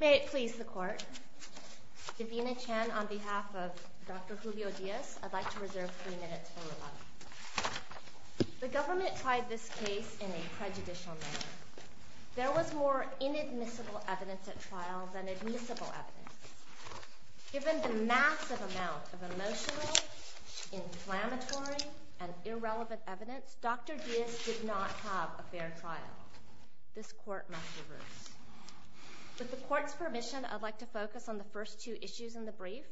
May it please the court. Davina Chen on behalf of Dr. Julio Diaz, I'd like to reserve three minutes. The government tried this case in a prejudicial manner. There was more inadmissible evidence at trial than admissible evidence. Given the massive amount of emotional, inflammatory, and irrelevant evidence, Dr. Diaz did not have a fair trial. This court must reverse. With the court's permission, I'd like to focus on the first two issues in the brief.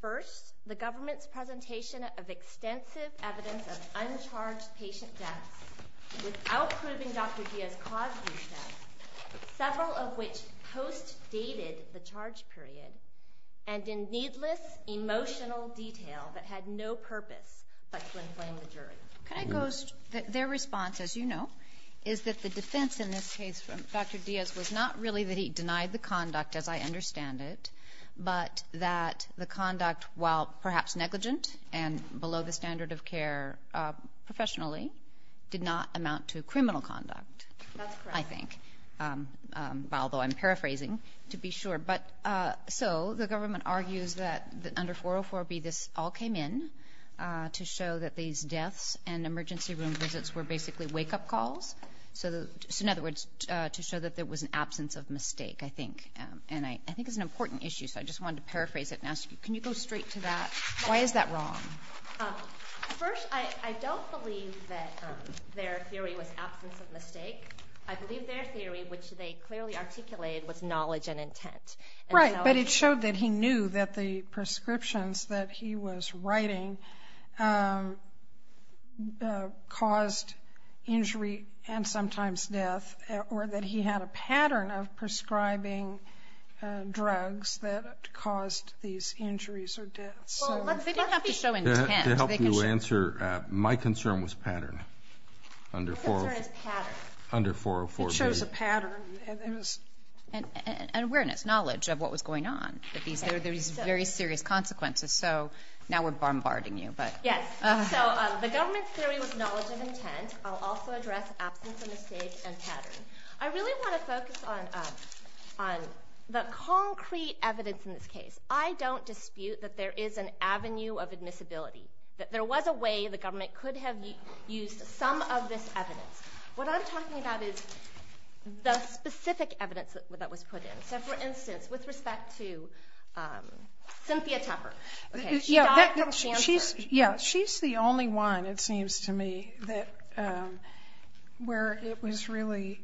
First, the government's presentation of extensive evidence of uncharged patient deaths without proving Dr. Diaz caused these deaths, several of which post-dated the charge period and in needless emotional detail that had no their response as you know is that the defense in this case from Dr. Diaz was not really that he denied the conduct as I understand it but that the conduct while perhaps negligent and below the standard of care professionally did not amount to criminal conduct I think although I'm paraphrasing to be sure but so the government argues that under 404 B this all came in to show that these deaths and emergency room visits were basically wake-up calls so in other words to show that there was an absence of mistake I think and I think it's an important issue so I just want to paraphrase it and ask you can you go straight to that why is that wrong I don't believe that their theory was absence of mistake. I believe their theory, which they clearly articulated, was knowledge and intent. Right, but it showed that he knew that the prescriptions that he was writing caused injury and sometimes death or that he had a pattern of prescribing drugs that caused these injuries or deaths. To help you answer, my concern was pattern under 404 B. And awareness, knowledge of what was going on. There were very serious consequences so now we're bombarding you. Yes, so the government's theory was knowledge of intent. I'll also address absence of mistake and pattern. I really want to focus on the concrete evidence in this case. I don't dispute that there is an avenue of admissibility. That there was a way the government could have used some of this evidence. What I'm talking about is the specific evidence that was put in. So for instance, with respect to Cynthia Tupper. She's the only one, it seems to me, where it was really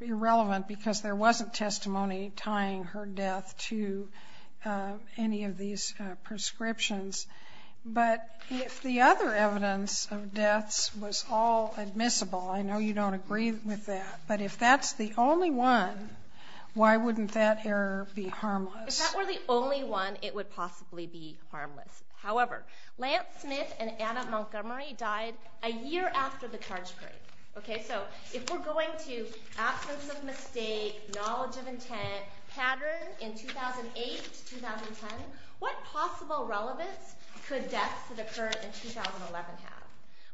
irrelevant because there wasn't testimony tying her death to any of these prescriptions. But if the other evidence of deaths was all admissible, I know you don't agree with that, but if that's the only one, why wouldn't that error be harmless? If that were the only one, it would possibly be harmless. However, Lance Smith and Adam Montgomery died a year after the charge break. So if we're going to absence of mistake, knowledge of intent, pattern in 2008-2010, what possible relevance could deaths that occurred in 2011 have?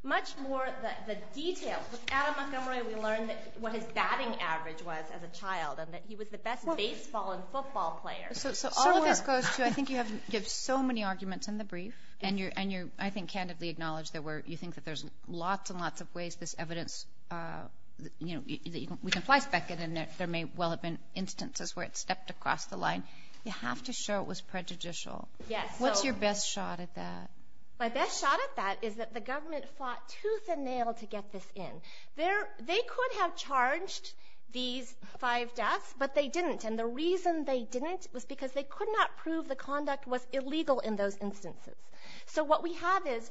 Much more the details. With Adam Montgomery, we learned what his batting average was as a child and that he was the best baseball and football player. So all of this goes to, I think you have given so many arguments in the brief and you're, I think, candidly acknowledge that you think there's lots and lots of ways this evidence, you know, we can flyspeck it and there may well have been instances where it stepped across the line. You have to show it was prejudicial. What's your best shot at that? My best shot at that is that the government fought tooth and nail to get this in. They could have charged these five deaths, but they didn't. And the reason they didn't was because they could not prove the conduct was illegal in those instances. So what we have is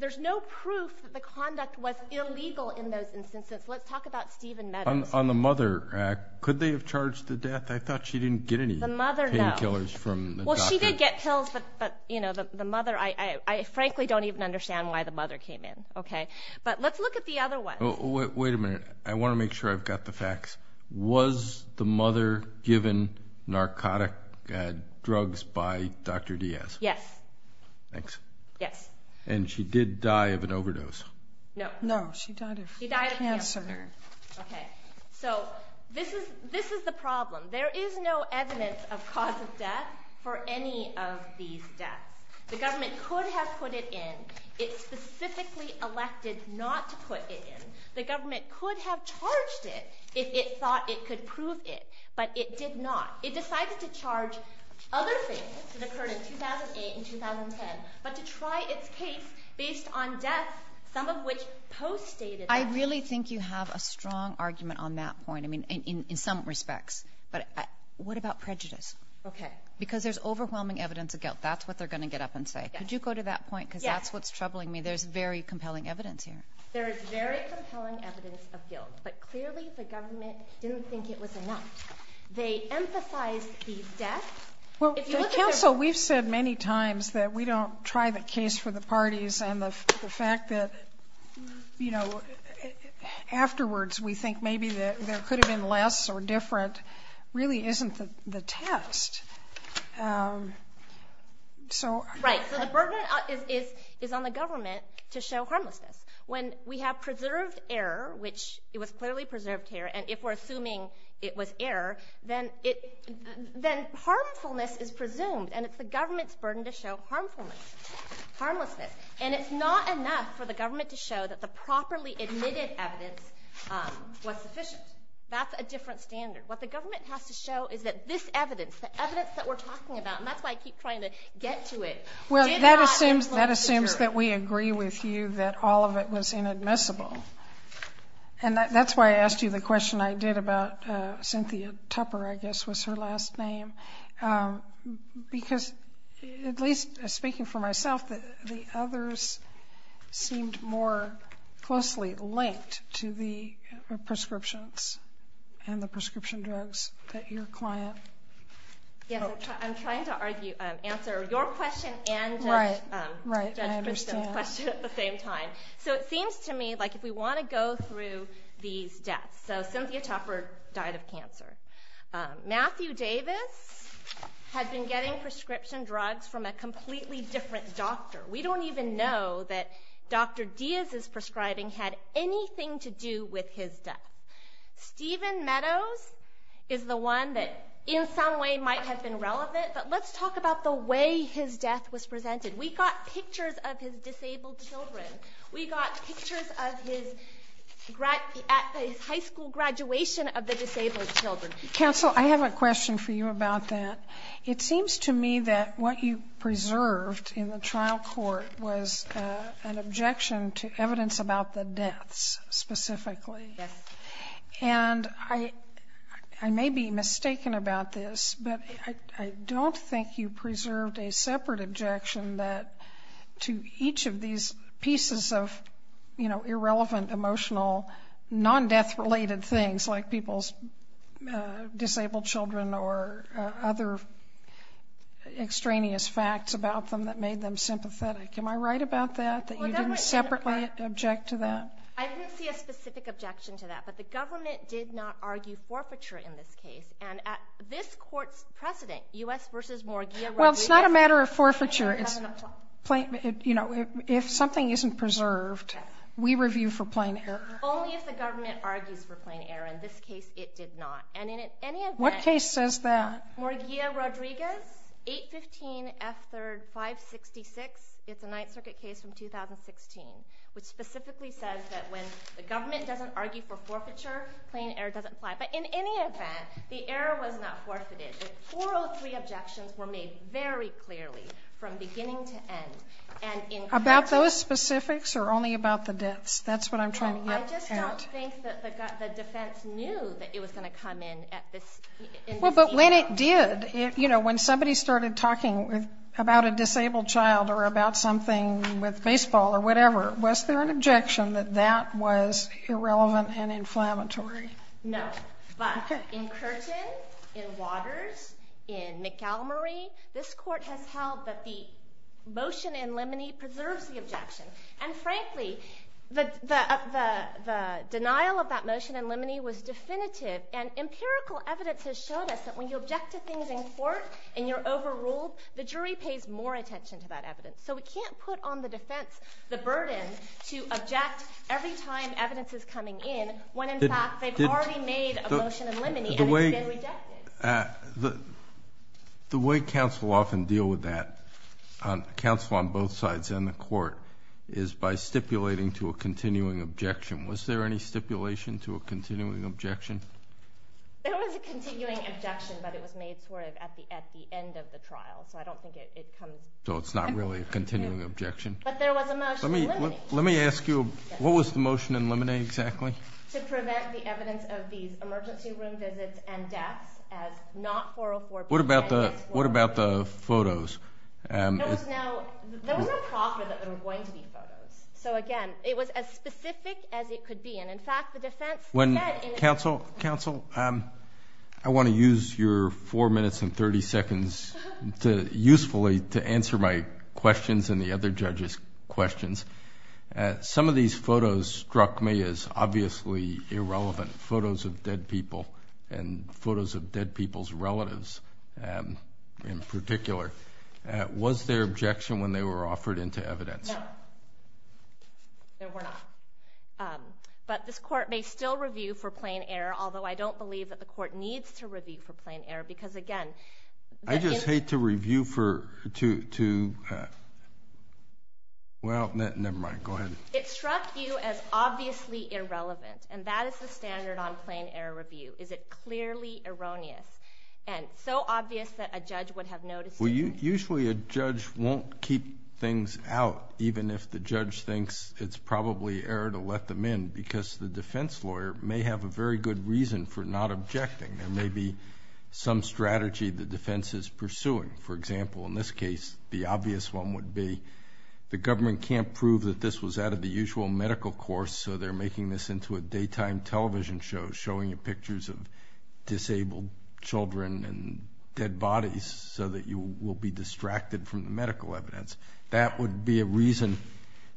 there's no proof that the conduct was illegal in those instances. Let's talk about Stephen Meadows. On the mother, could they have charged the death? I thought she didn't get any painkillers from the doctor. She did get pills, but the mother, I frankly don't even understand why the mother came in. But let's look at the other one. Wait a minute. I want to make sure I've got the facts. Was the mother given narcotic drugs by Dr. Diaz? Yes. Thanks. Yes. And she did die of an overdose? No. No, she died of cancer. Okay, so this is the problem. There is no evidence of cause of death for any of these deaths. The government could have put it in. It specifically elected not to put it in. The government could have charged it if it thought it could prove it, but it did not. It decided to charge other things that occurred in 2008 and 2010, but to try its case based on deaths, some of which post-stated. I really think you have a strong argument on that point, I mean, in some respects. But what about prejudice? Okay. Because there's overwhelming evidence of guilt. That's what they're going to get up and say. Could you go to that point? Yes. Because that's what's troubling me. There's very compelling evidence here. There is very compelling evidence of guilt, but clearly the government didn't think it was enough. They emphasized the death. Well, counsel, we've said many times that we don't try the case for the parties, and the fact that, you know, afterwards we think maybe there could have been less or different really isn't the test. Right. So the burden is on the government to show harmlessness. When we have preserved error, which it was clearly preserved here, and if we're assuming it was error, then harmfulness is presumed, and it's the government's burden to show harmfulness, harmlessness. And it's not enough for the government to show that the properly admitted evidence was sufficient. That's a different standard. What the government has to show is that this evidence, the evidence that we're talking about, and that's why I keep trying to get to it, did not... That assumes that we agree with you that all of it was inadmissible. And that's why I asked you the question I did about Cynthia Tupper, I guess was her last name. Because, at least speaking for myself, the others seemed more closely linked to the prescriptions and the prescription drugs that your client... Yes, I'm trying to answer your question and Judge Christine's question at the same time. So it seems to me like if we want to go through these deaths, so Cynthia Tupper died of cancer. Matthew Davis had been getting prescription drugs from a completely different doctor. We don't even know that Dr. Diaz's prescribing had anything to do with his death. Stephen Meadows is the one that in some way might have been relevant, but let's talk about the way his death was presented. We got pictures of his disabled children. We got pictures of his high school graduation of the disabled children. Counsel, I have a question for you about that. It seems to me that what you preserved in the trial court was an objection to evidence about the deaths specifically. Yes. And I may be mistaken about this, but I don't think you preserved a separate objection that to each of these pieces of, you know, extraneous facts about them that made them sympathetic. Am I right about that, that you didn't separately object to that? I didn't see a specific objection to that, but the government did not argue forfeiture in this case. And this court's precedent, U.S. v. Morgia... Well, it's not a matter of forfeiture. You know, if something isn't preserved, we review for plain error. Only if the government argues for plain error. In this case, it did not. And in any event... What case says that? Morgia-Rodriguez, 815 F. 3rd, 566. It's a Ninth Circuit case from 2016, which specifically says that when the government doesn't argue for forfeiture, plain error doesn't apply. But in any event, the error was not forfeited. The 403 objections were made very clearly from beginning to end. About those specifics or only about the deaths? That's what I'm trying to get at. I just don't think that the defense knew that it was going to come in at this... Well, but when it did, you know, when somebody started talking about a disabled child or about something with baseball or whatever, was there an objection that that was irrelevant and inflammatory? No. But in Curtin, in Waters, in Montgomery, this court has held that the motion in Limoney preserves the objection. And frankly, the denial of that motion in Limoney was definitive. And empirical evidence has showed us that when you object to things in court and you're overruled, the jury pays more attention to that evidence. So we can't put on the defense the burden to object every time evidence is coming in when, in fact, they've already made a motion in Limoney and it's been rejected. The way counsel often deal with that, counsel on both sides and the court, is by stipulating to a continuing objection. Was there any stipulation to a continuing objection? There was a continuing objection, but it was made sort of at the end of the trial. So I don't think it comes... So it's not really a continuing objection? But there was a motion in Limoney. Let me ask you, what was the motion in Limoney exactly? To prevent the evidence of these emergency room visits and deaths as not 404... What about the photos? There was no proffer that there were going to be photos. So, again, it was as specific as it could be. And, in fact, the defense... Counsel, I want to use your 4 minutes and 30 seconds usefully to answer my questions and the other judges' questions. Some of these photos struck me as obviously irrelevant, photos of dead people and photos of dead people's relatives in particular. Was there objection when they were offered into evidence? No. There were not. But this court may still review for plain error, although I don't believe that the court needs to review for plain error because, again... I just hate to review for... Well, never mind. Go ahead. It struck you as obviously irrelevant, and that is the standard on plain error review. Is it clearly erroneous and so obvious that a judge would have noticed it? Well, usually a judge won't keep things out, even if the judge thinks it's probably error to let them in, because the defense lawyer may have a very good reason for not objecting. There may be some strategy the defense is pursuing. For example, in this case, the obvious one would be the government can't prove that this was out of the usual medical course, so they're making this into a daytime television show, showing you pictures of disabled children and dead bodies so that you will be distracted from the medical evidence. That would be a reason,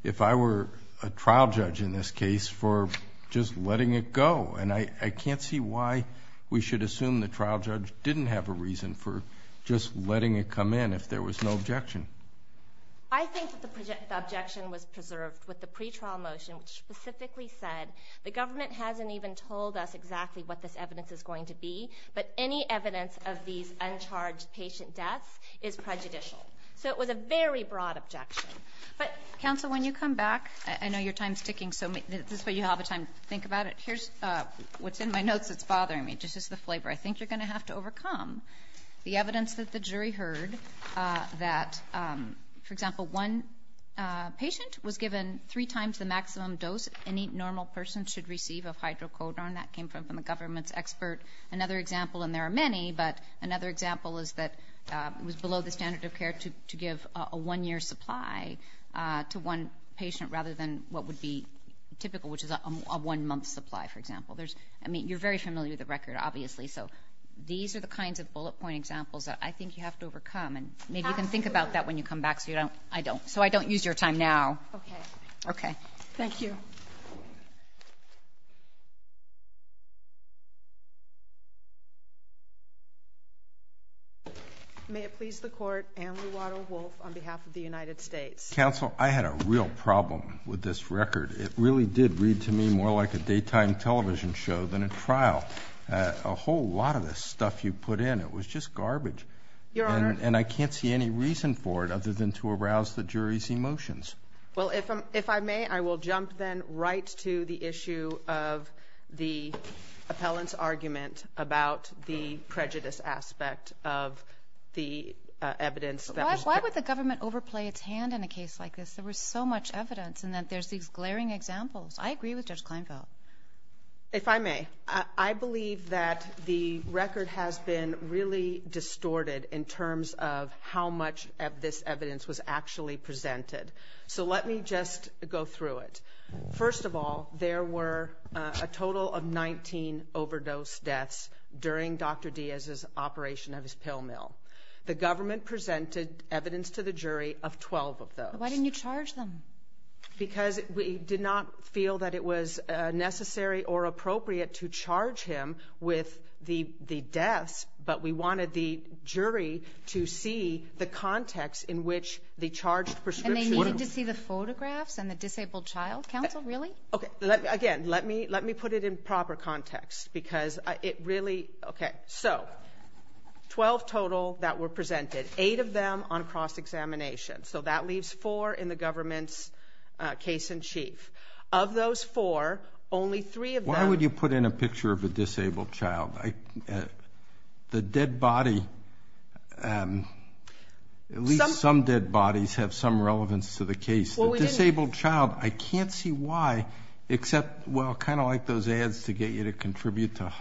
if I were a trial judge in this case, for just letting it go, and I can't see why we should assume the trial judge didn't have a reason for just letting it come in if there was no objection. I think that the objection was preserved with the pretrial motion, which specifically said, the government hasn't even told us exactly what this evidence is going to be, but any evidence of these uncharged patient deaths is prejudicial. So it was a very broad objection. But ‑‑ Counsel, when you come back, I know your time is ticking, so this is where you have time to think about it. Here's what's in my notes that's bothering me. This is the flavor. I think you're going to have to overcome the evidence that the jury heard that, for example, one patient was given three times the maximum dose any normal person should receive of hydrocodone. That came from the government's expert. Another example, and there are many, but another example is that it was below the standard of care to give a one‑year supply to one patient rather than what would be typical, which is a one‑month supply, for example. I mean, you're very familiar with the record, obviously, so these are the kinds of bullet point examples that I think you have to overcome. Absolutely. Maybe you can think about that when you come back, so I don't use your time now. Okay. Okay. Thank you. May it please the Court, Anne Ruato Wolfe on behalf of the United States. Counsel, I had a real problem with this record. It really did read to me more like a daytime television show than a trial. A whole lot of the stuff you put in, it was just garbage. Your Honor. And I can't see any reason for it other than to arouse the jury's emotions. Well, if I may, I will jump then right to the issue of the appellant's argument about the prejudice aspect of the evidence. Why would the government overplay its hand in a case like this? There was so much evidence, and then there's these glaring examples. I agree with Judge Kleinfeld. If I may, I believe that the record has been really distorted in terms of how much of this evidence was actually presented. So let me just go through it. First of all, there were a total of 19 overdose deaths during Dr. Diaz's operation of his pill mill. The government presented evidence to the jury of 12 of those. Why didn't you charge them? Because we did not feel that it was necessary or appropriate to charge him with the deaths, but we wanted the jury to see the context in which the charged prescription— And they needed to see the photographs and the disabled child, counsel? Really? Okay. Again, let me put it in proper context because it really— Okay. So, 12 total that were presented, 8 of them on cross-examination. So that leaves 4 in the government's case-in-chief. Of those 4, only 3 of them— Why would you put in a picture of a disabled child? The dead body—at least some dead bodies have some relevance to the case. The disabled child, I can't see why, except, well, kind of like those ads to get you to contribute to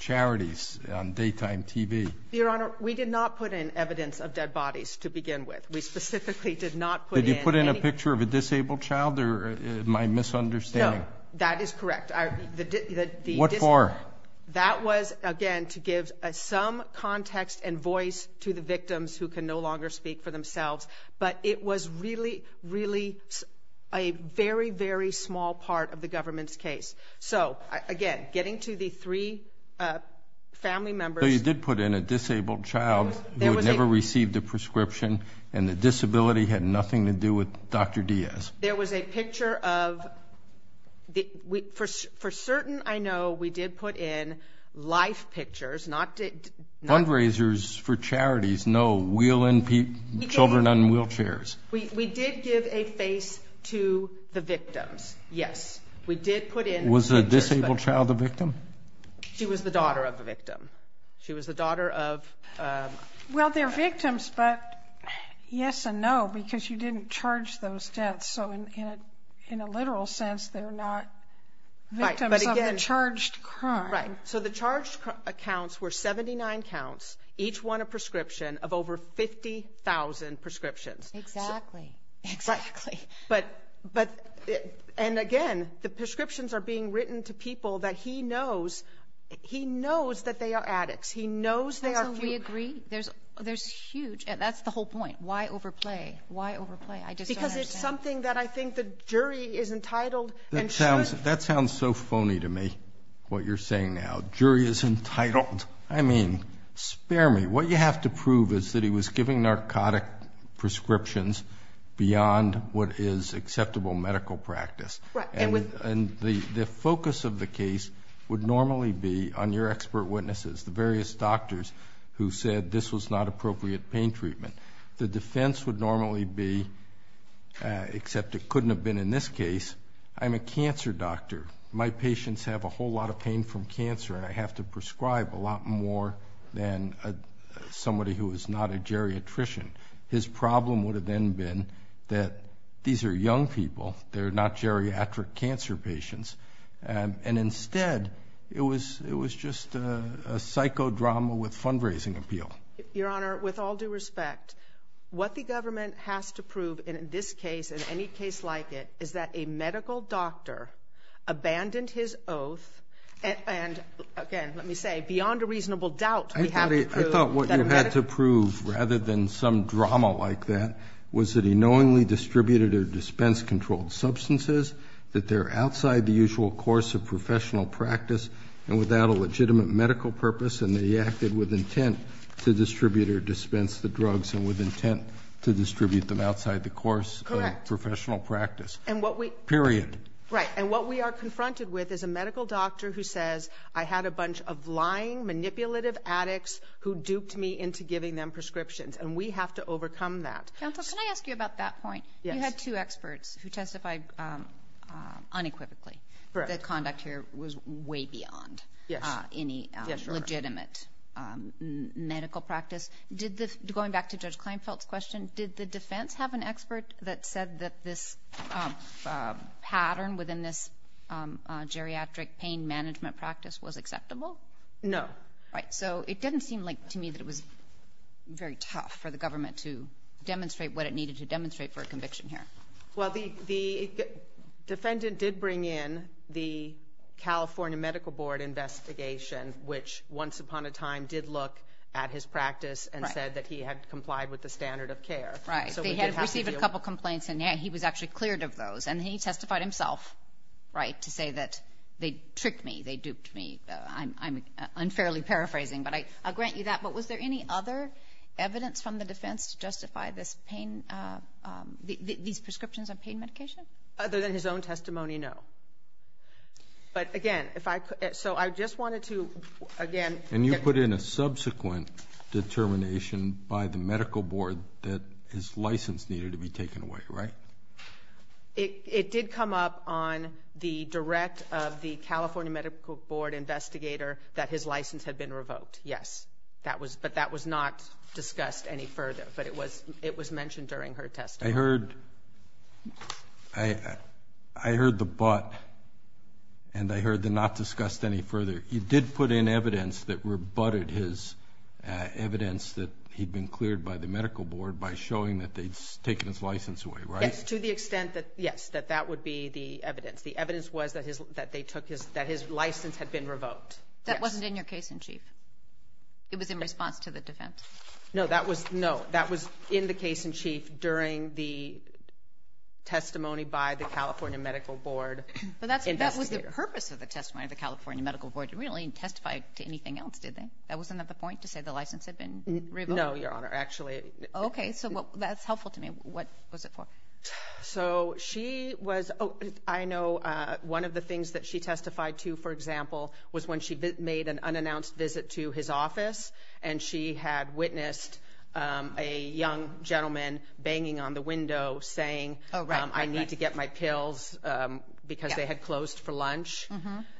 charities on daytime TV. Your Honor, we did not put in evidence of dead bodies to begin with. We specifically did not put in any— Did you put in a picture of a disabled child, or am I misunderstanding? No, that is correct. What for? That was, again, to give some context and voice to the victims who can no longer speak for themselves, but it was really, really a very, very small part of the government's case. So, again, getting to the 3 family members— And the disability had nothing to do with Dr. Diaz? There was a picture of—for certain, I know, we did put in life pictures, not— Fundraisers for charities, no, children on wheelchairs. We did give a face to the victims, yes. Was the disabled child the victim? She was the daughter of the victim. She was the daughter of— Well, they're victims, but yes and no, because you didn't charge those deaths. So, in a literal sense, they're not victims of the charged crime. Right. So the charged counts were 79 counts, each one a prescription of over 50,000 prescriptions. Exactly. Exactly. And, again, the prescriptions are being written to people that he knows. He knows that they are addicts. He knows they are— I agree. There's huge—that's the whole point. Why overplay? Why overplay? I just don't understand. Because it's something that I think the jury is entitled and should— That sounds so phony to me, what you're saying now. Jury is entitled? I mean, spare me. What you have to prove is that he was giving narcotic prescriptions beyond what is acceptable medical practice. And the focus of the case would normally be on your expert witnesses, the various doctors who said this was not appropriate pain treatment. The defense would normally be, except it couldn't have been in this case, I'm a cancer doctor. My patients have a whole lot of pain from cancer, and I have to prescribe a lot more than somebody who is not a geriatrician. His problem would have then been that these are young people. They're not geriatric cancer patients. And instead, it was just a psychodrama with fundraising appeal. Your Honor, with all due respect, what the government has to prove in this case, in any case like it, is that a medical doctor abandoned his oath and, again, let me say, beyond a reasonable doubt, I thought what you had to prove, rather than some drama like that, was that he knowingly distributed or dispensed controlled substances, that they're outside the usual course of professional practice and without a legitimate medical purpose, and that he acted with intent to distribute or dispense the drugs and with intent to distribute them outside the course of professional practice. Correct. Period. Right. And what we are confronted with is a medical doctor who says I had a bunch of lying, manipulative addicts who duped me into giving them prescriptions, and we have to overcome that. Counsel, can I ask you about that point? Yes. You had two experts who testified unequivocally that conduct here was way beyond any legitimate medical practice. Going back to Judge Kleinfeld's question, did the defense have an expert that said that this pattern within this geriatric pain management practice was acceptable? No. Right. So it didn't seem like to me that it was very tough for the government to demonstrate what it needed to demonstrate for a conviction here. Well, the defendant did bring in the California Medical Board investigation, which once upon a time did look at his practice and said that he had complied with the standard of care. Right. They had received a couple of complaints, and he was actually cleared of those, and he testified himself, right, to say that they tricked me, they duped me, and I'm unfairly paraphrasing, but I'll grant you that. But was there any other evidence from the defense to justify this pain, these prescriptions on pain medication? Other than his own testimony, no. But, again, so I just wanted to, again – And you put in a subsequent determination by the medical board that his license needed to be taken away, right? It did come up on the direct of the California Medical Board investigator that his license had been revoked, yes. But that was not discussed any further, but it was mentioned during her testimony. I heard the but, and I heard the not discussed any further. You did put in evidence that rebutted his evidence that he'd been cleared by the medical board by showing that they'd taken his license away, right? Yes, to the extent that, yes, that that would be the evidence. The evidence was that his license had been revoked. That wasn't in your case in chief? It was in response to the defense? No, that was in the case in chief during the testimony by the California Medical Board investigator. But that was the purpose of the testimony of the California Medical Board. It really didn't testify to anything else, did they? That wasn't the point, to say the license had been revoked? No, Your Honor. Okay, so that's helpful to me. What was it for? So she was, I know one of the things that she testified to, for example, was when she made an unannounced visit to his office, and she had witnessed a young gentleman banging on the window saying, I need to get my pills because they had closed for lunch.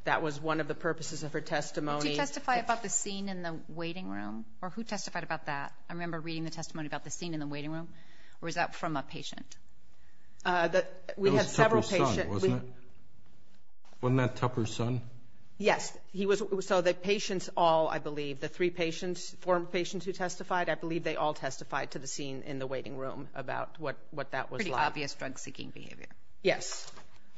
That was one of the purposes of her testimony. Did she testify about the scene in the waiting room, or who testified about that? I remember reading the testimony about the scene in the waiting room, or was that from a patient? It was Tupper's son, wasn't it? Wasn't that Tupper's son? Yes. So the patients all, I believe, the three patients, four patients who testified, I believe they all testified to the scene in the waiting room about what that was like. Pretty obvious drug-seeking behavior. Yes.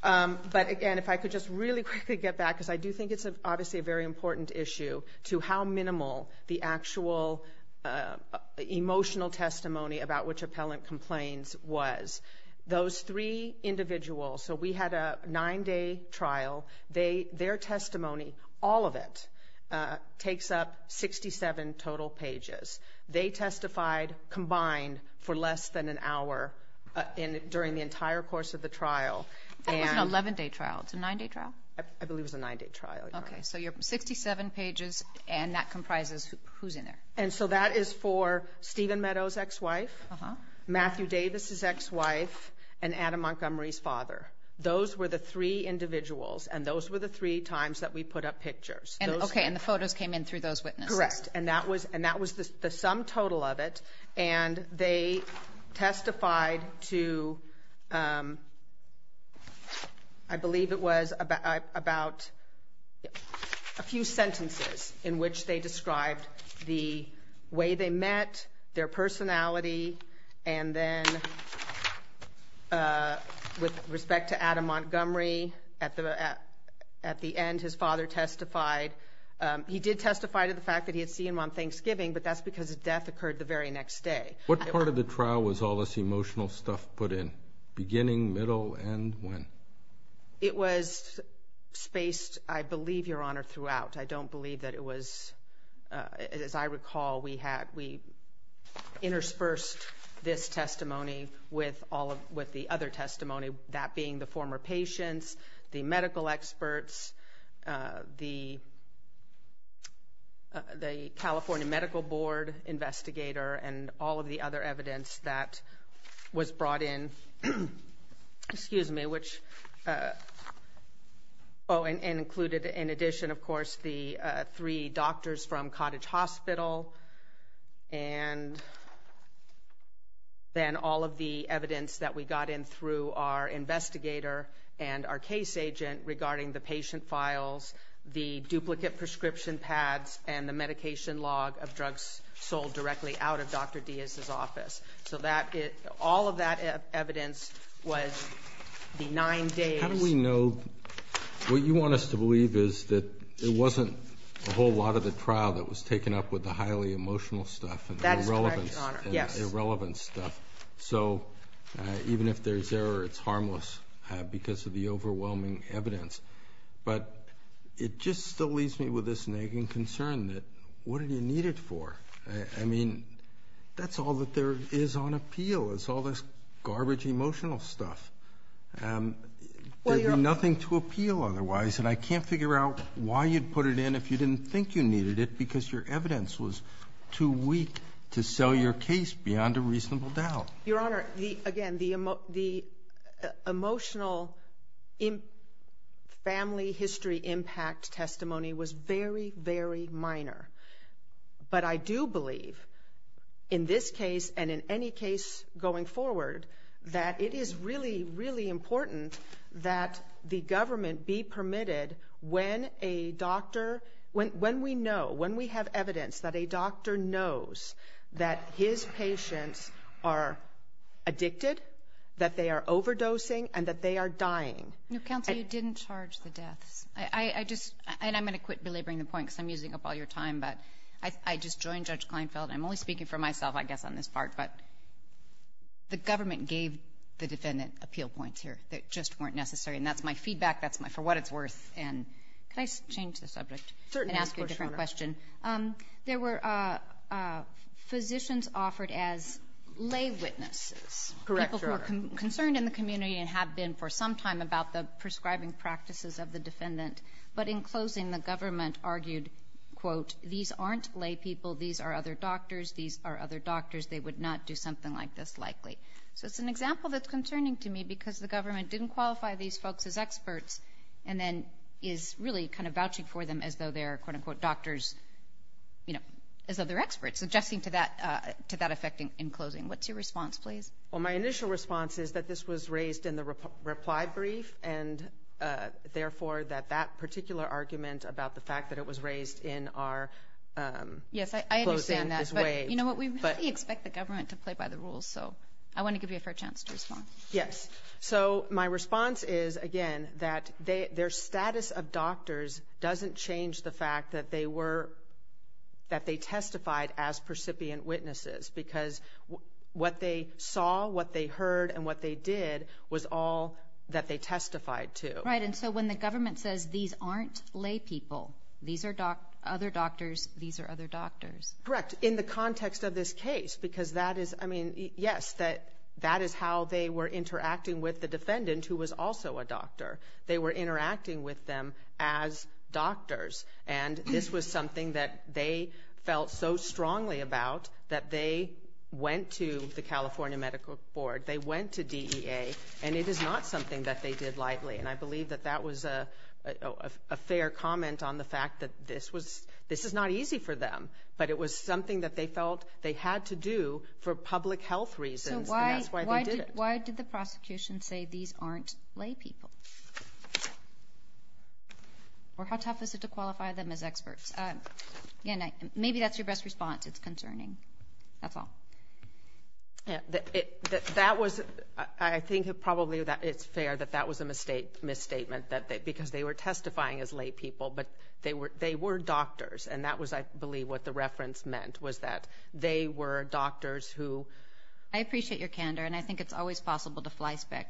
But, again, if I could just really quickly get back, because I do think it's obviously a very important issue, to how minimal the actual emotional testimony about which appellant complains was. Those three individuals, so we had a nine-day trial. Their testimony, all of it, takes up 67 total pages. They testified combined for less than an hour during the entire course of the trial. It was an 11-day trial. It's a nine-day trial? I believe it was a nine-day trial. Okay. So you have 67 pages, and that comprises who's in there? And so that is for Stephen Meadows' ex-wife, Matthew Davis' ex-wife, and Adam Montgomery's father. Those were the three individuals, and those were the three times that we put up pictures. Okay. And the photos came in through those witnesses? Correct. And that was the sum total of it, and they testified to, I believe it was, about a few sentences in which they described the way they met, their personality, and then with respect to Adam Montgomery, at the end, his father testified. He did testify to the fact that he had seen him on Thanksgiving, but that's because his death occurred the very next day. What part of the trial was all this emotional stuff put in, beginning, middle, and when? It was spaced, I believe, Your Honor, throughout. I don't believe that it was, as I recall, we interspersed this testimony with the other testimony, that being the former patients, the medical experts, the California Medical Board investigator, and all of the other evidence that was brought in, which included, in addition, of course, the three doctors from Cottage Hospital, and then all of the evidence that we got in through our investigator and our case agent regarding the patient files, the duplicate prescription pads, and the medication log of drugs sold directly out of Dr. Diaz's office. So all of that evidence was the nine days. How do we know? What you want us to believe is that it wasn't a whole lot of the trial that was taken up with the highly emotional stuff and the irrelevance stuff. So even if there's error, it's harmless because of the overwhelming evidence. But it just still leaves me with this nagging concern that what did he need it for? I mean, that's all that there is on appeal is all this garbage emotional stuff. There'd be nothing to appeal otherwise, and I can't figure out why you'd put it in if you didn't think you needed it because your evidence was too weak to sell your case beyond a reasonable doubt. Your Honor, again, the emotional family history impact testimony was very, very minor. But I do believe in this case and in any case going forward that it is really, really important that the government be permitted when a doctor, when we know, when we have evidence that a doctor knows that his patients are addicted, that they are overdosing, and that they are dying. No, Counselor, you didn't charge the deaths. I just, and I'm going to quit belaboring the point because I'm using up all your time, but I just joined Judge Kleinfeld, and I'm only speaking for myself, I guess, on this part, but the government gave the defendant appeal points here that just weren't necessary. And that's my feedback. That's for what it's worth. And can I change the subject and ask you a different question? Certainly, of course, Your Honor. There were physicians offered as lay witnesses. Correct, Your Honor. People who were concerned in the community and have been for some time about the prescribing practices of the defendant, but in closing the government argued, quote, these aren't lay people. These are other doctors. These are other doctors. They would not do something like this likely. So it's an example that's concerning to me because the government didn't qualify these folks as experts and then is really kind of vouching for them as though they're, quote, unquote, doctors, you know, as though they're experts, adjusting to that effect in closing. What's your response, please? Well, my initial response is that this was raised in the reply brief and, therefore, that that particular argument about the fact that it was raised in our closing is waived. Yes, I understand that. But, you know what, we really expect the government to play by the rules, so I want to give you a fair chance to respond. Yes. So my response is, again, that their status of doctors doesn't change the fact that they testified as all what they heard and what they did was all that they testified to. Right, and so when the government says these aren't lay people, these are other doctors, these are other doctors. Correct, in the context of this case because that is, I mean, yes, that is how they were interacting with the defendant who was also a doctor. They were interacting with them as doctors, and this was something that they felt so strongly about that they went to the California Medical Board, they went to DEA, and it is not something that they did lightly, and I believe that that was a fair comment on the fact that this is not easy for them, but it was something that they felt they had to do for public health reasons, and that's why they did it. So why did the prosecution say these aren't lay people? Or how tough is it to qualify them as experts? Maybe that's your best response, it's concerning. That's all. That was, I think probably it's fair that that was a misstatement because they were testifying as lay people, but they were doctors, and that was, I believe, what the reference meant was that they were doctors who. I appreciate your candor, and I think it's always possible to flyspeck.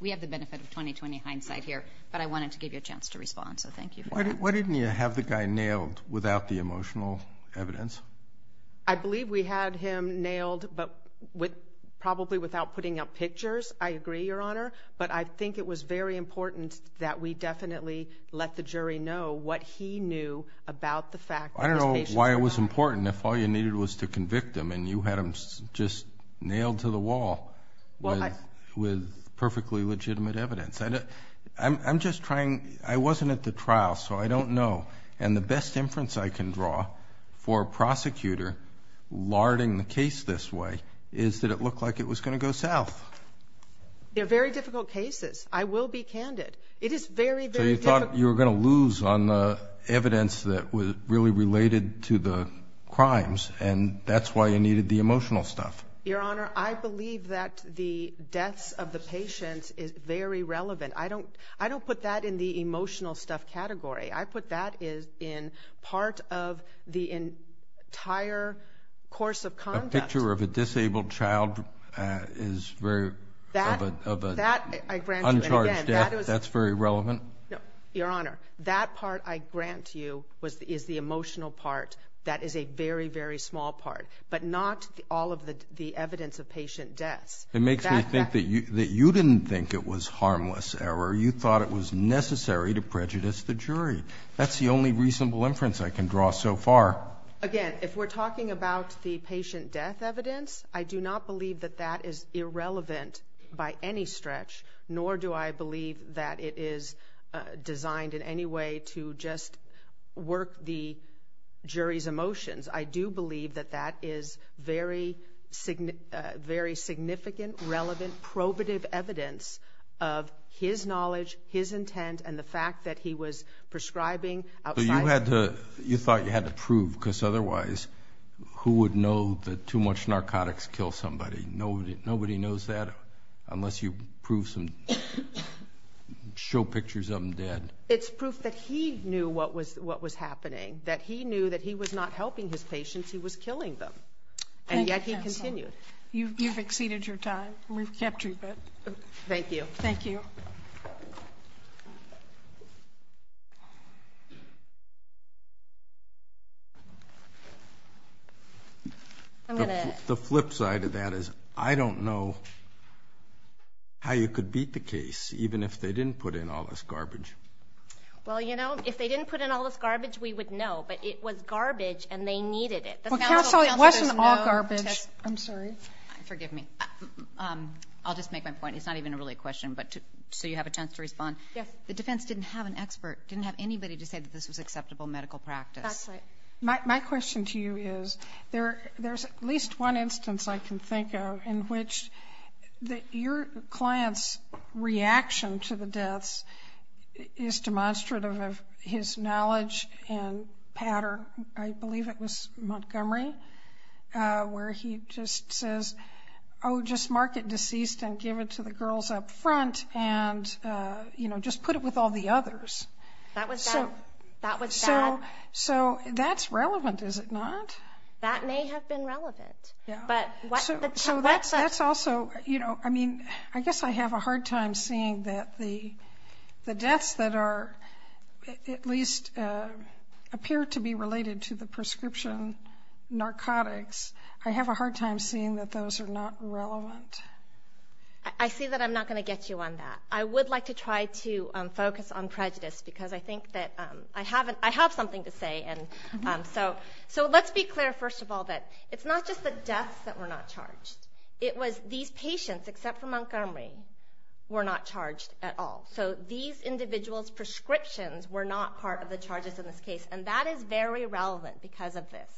We have the benefit of 20-20 hindsight here, but I wanted to give you a chance to respond, so thank you. Why didn't you have the guy nailed without the emotional evidence? I believe we had him nailed probably without putting up pictures, I agree, Your Honor, but I think it was very important that we definitely let the jury know what he knew about the fact. I don't know why it was important if all you needed was to convict him, and you had him just nailed to the wall with perfectly legitimate evidence. I'm just trying, I wasn't at the trial, so I don't know, and the best inference I can draw for a prosecutor larding the case this way is that it looked like it was going to go south. They're very difficult cases. I will be candid. It is very, very difficult. So you thought you were going to lose on the evidence that was really related to the crimes, and that's why you needed the emotional stuff. Your Honor, I believe that the deaths of the patients is very relevant. I don't put that in the emotional stuff category. I put that in part of the entire course of conduct. A picture of a disabled child is very, of an uncharged death, that's very relevant. Your Honor, that part I grant to you is the emotional part. That is a very, very small part, but not all of the evidence of patient deaths. It makes me think that you didn't think it was harmless error. You thought it was necessary to prejudice the jury. That's the only reasonable inference I can draw so far. Again, if we're talking about the patient death evidence, I do not believe that that is irrelevant by any stretch, nor do I believe that it is designed in any way to just work the jury's emotions. I do believe that that is very significant, relevant, probative evidence of his knowledge, his intent, and the fact that he was prescribing outside. You thought you had to prove, because otherwise who would know that too much narcotics kill somebody? Nobody knows that unless you prove some, show pictures of them dead. It's proof that he knew what was happening, that he knew that he was not helping his patients, he was killing them, and yet he continued. You've exceeded your time. We've kept you. Thank you. Thank you. Thank you. The flip side of that is I don't know how you could beat the case even if they didn't put in all this garbage. Well, you know, if they didn't put in all this garbage, we would know. But it was garbage and they needed it. Well, counsel, it wasn't all garbage. I'm sorry. Forgive me. I'll just make my point. It's not even really a question, but so you have a chance to respond. Yes. The defense didn't have an expert, didn't have anybody to say that this was acceptable medical practice. That's right. My question to you is there's at least one instance I can think of in which your client's reaction to the deaths is demonstrative of his knowledge and pattern. I believe it was Montgomery where he just says, oh, just mark it deceased and give it to the girls up front and, you know, just put it with all the others. That was bad. So that's relevant, is it not? That may have been relevant. So that's also, you know, I mean, I guess I have a hard time seeing that the deaths that are at least appear to be related to the prescription narcotics. I have a hard time seeing that those are not relevant. I see that I'm not going to get you on that. I would like to try to focus on prejudice because I think that I have something to say. So let's be clear, first of all, that it's not just the deaths that were not charged. It was these patients, except for Montgomery, were not charged at all. So these individuals' prescriptions were not part of the charges in this case. And that is very relevant because of this.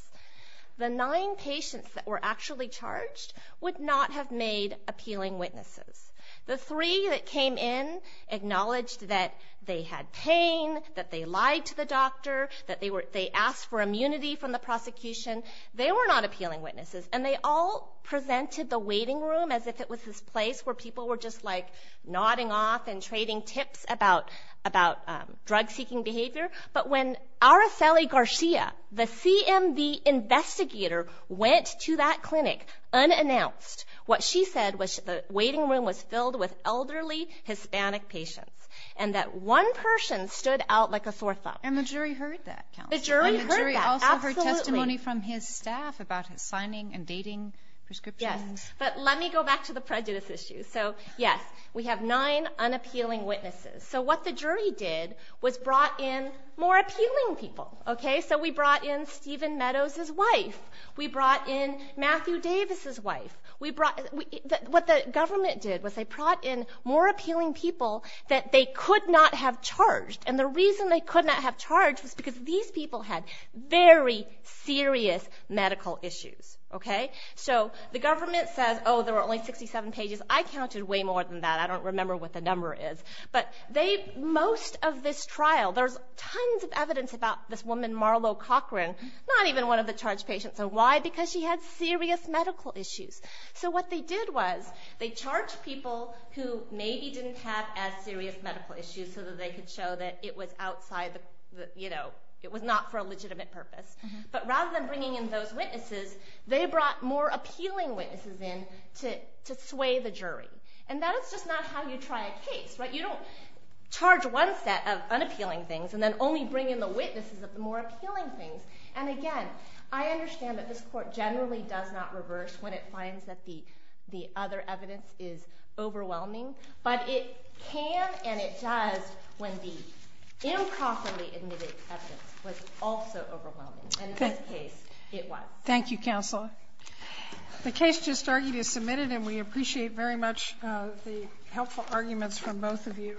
The nine patients that were actually charged would not have made appealing witnesses. The three that came in acknowledged that they had pain, that they lied to the doctor, that they asked for immunity from the prosecution. They were not appealing witnesses. And they all presented the waiting room as if it was this place where people were just, like, nodding off and trading tips about drug-seeking behavior. But when Aracely Garcia, the CMV investigator, went to that clinic unannounced, what she said was the waiting room was filled with elderly Hispanic patients and that one person stood out like a sore thumb. And the jury heard that. The jury heard that, absolutely. The jury also heard testimony from his staff about his signing and dating prescriptions. Yes. But let me go back to the prejudice issue. So, yes, we have nine unappealing witnesses. So what the jury did was brought in more appealing people. So we brought in Stephen Meadows' wife. We brought in Matthew Davis' wife. What the government did was they brought in more appealing people that they could not have charged. And the reason they could not have charged was because these people had very serious medical issues. Okay? So the government says, oh, there were only 67 pages. I counted way more than that. I don't remember what the number is. But most of this trial, there's tons of evidence about this woman, Marlo Cochran, not even one of the charged patients. And why? Because she had serious medical issues. So what they did was they charged people who maybe didn't have as serious medical issues so that they could show that it was outside the, you know, it was not for a legitimate purpose. But rather than bringing in those witnesses, they brought more appealing witnesses in to sway the jury. And that is just not how you try a case. You don't charge one set of unappealing things and then only bring in the witnesses of the more appealing things. And, again, I understand that this Court generally does not reverse when it finds that the other evidence is overwhelming. But it can and it does when the improperly admitted evidence was also overwhelming. And in this case, it was. Thank you, Counsel. The case just argued is submitted, and we appreciate very much the helpful arguments from both of you.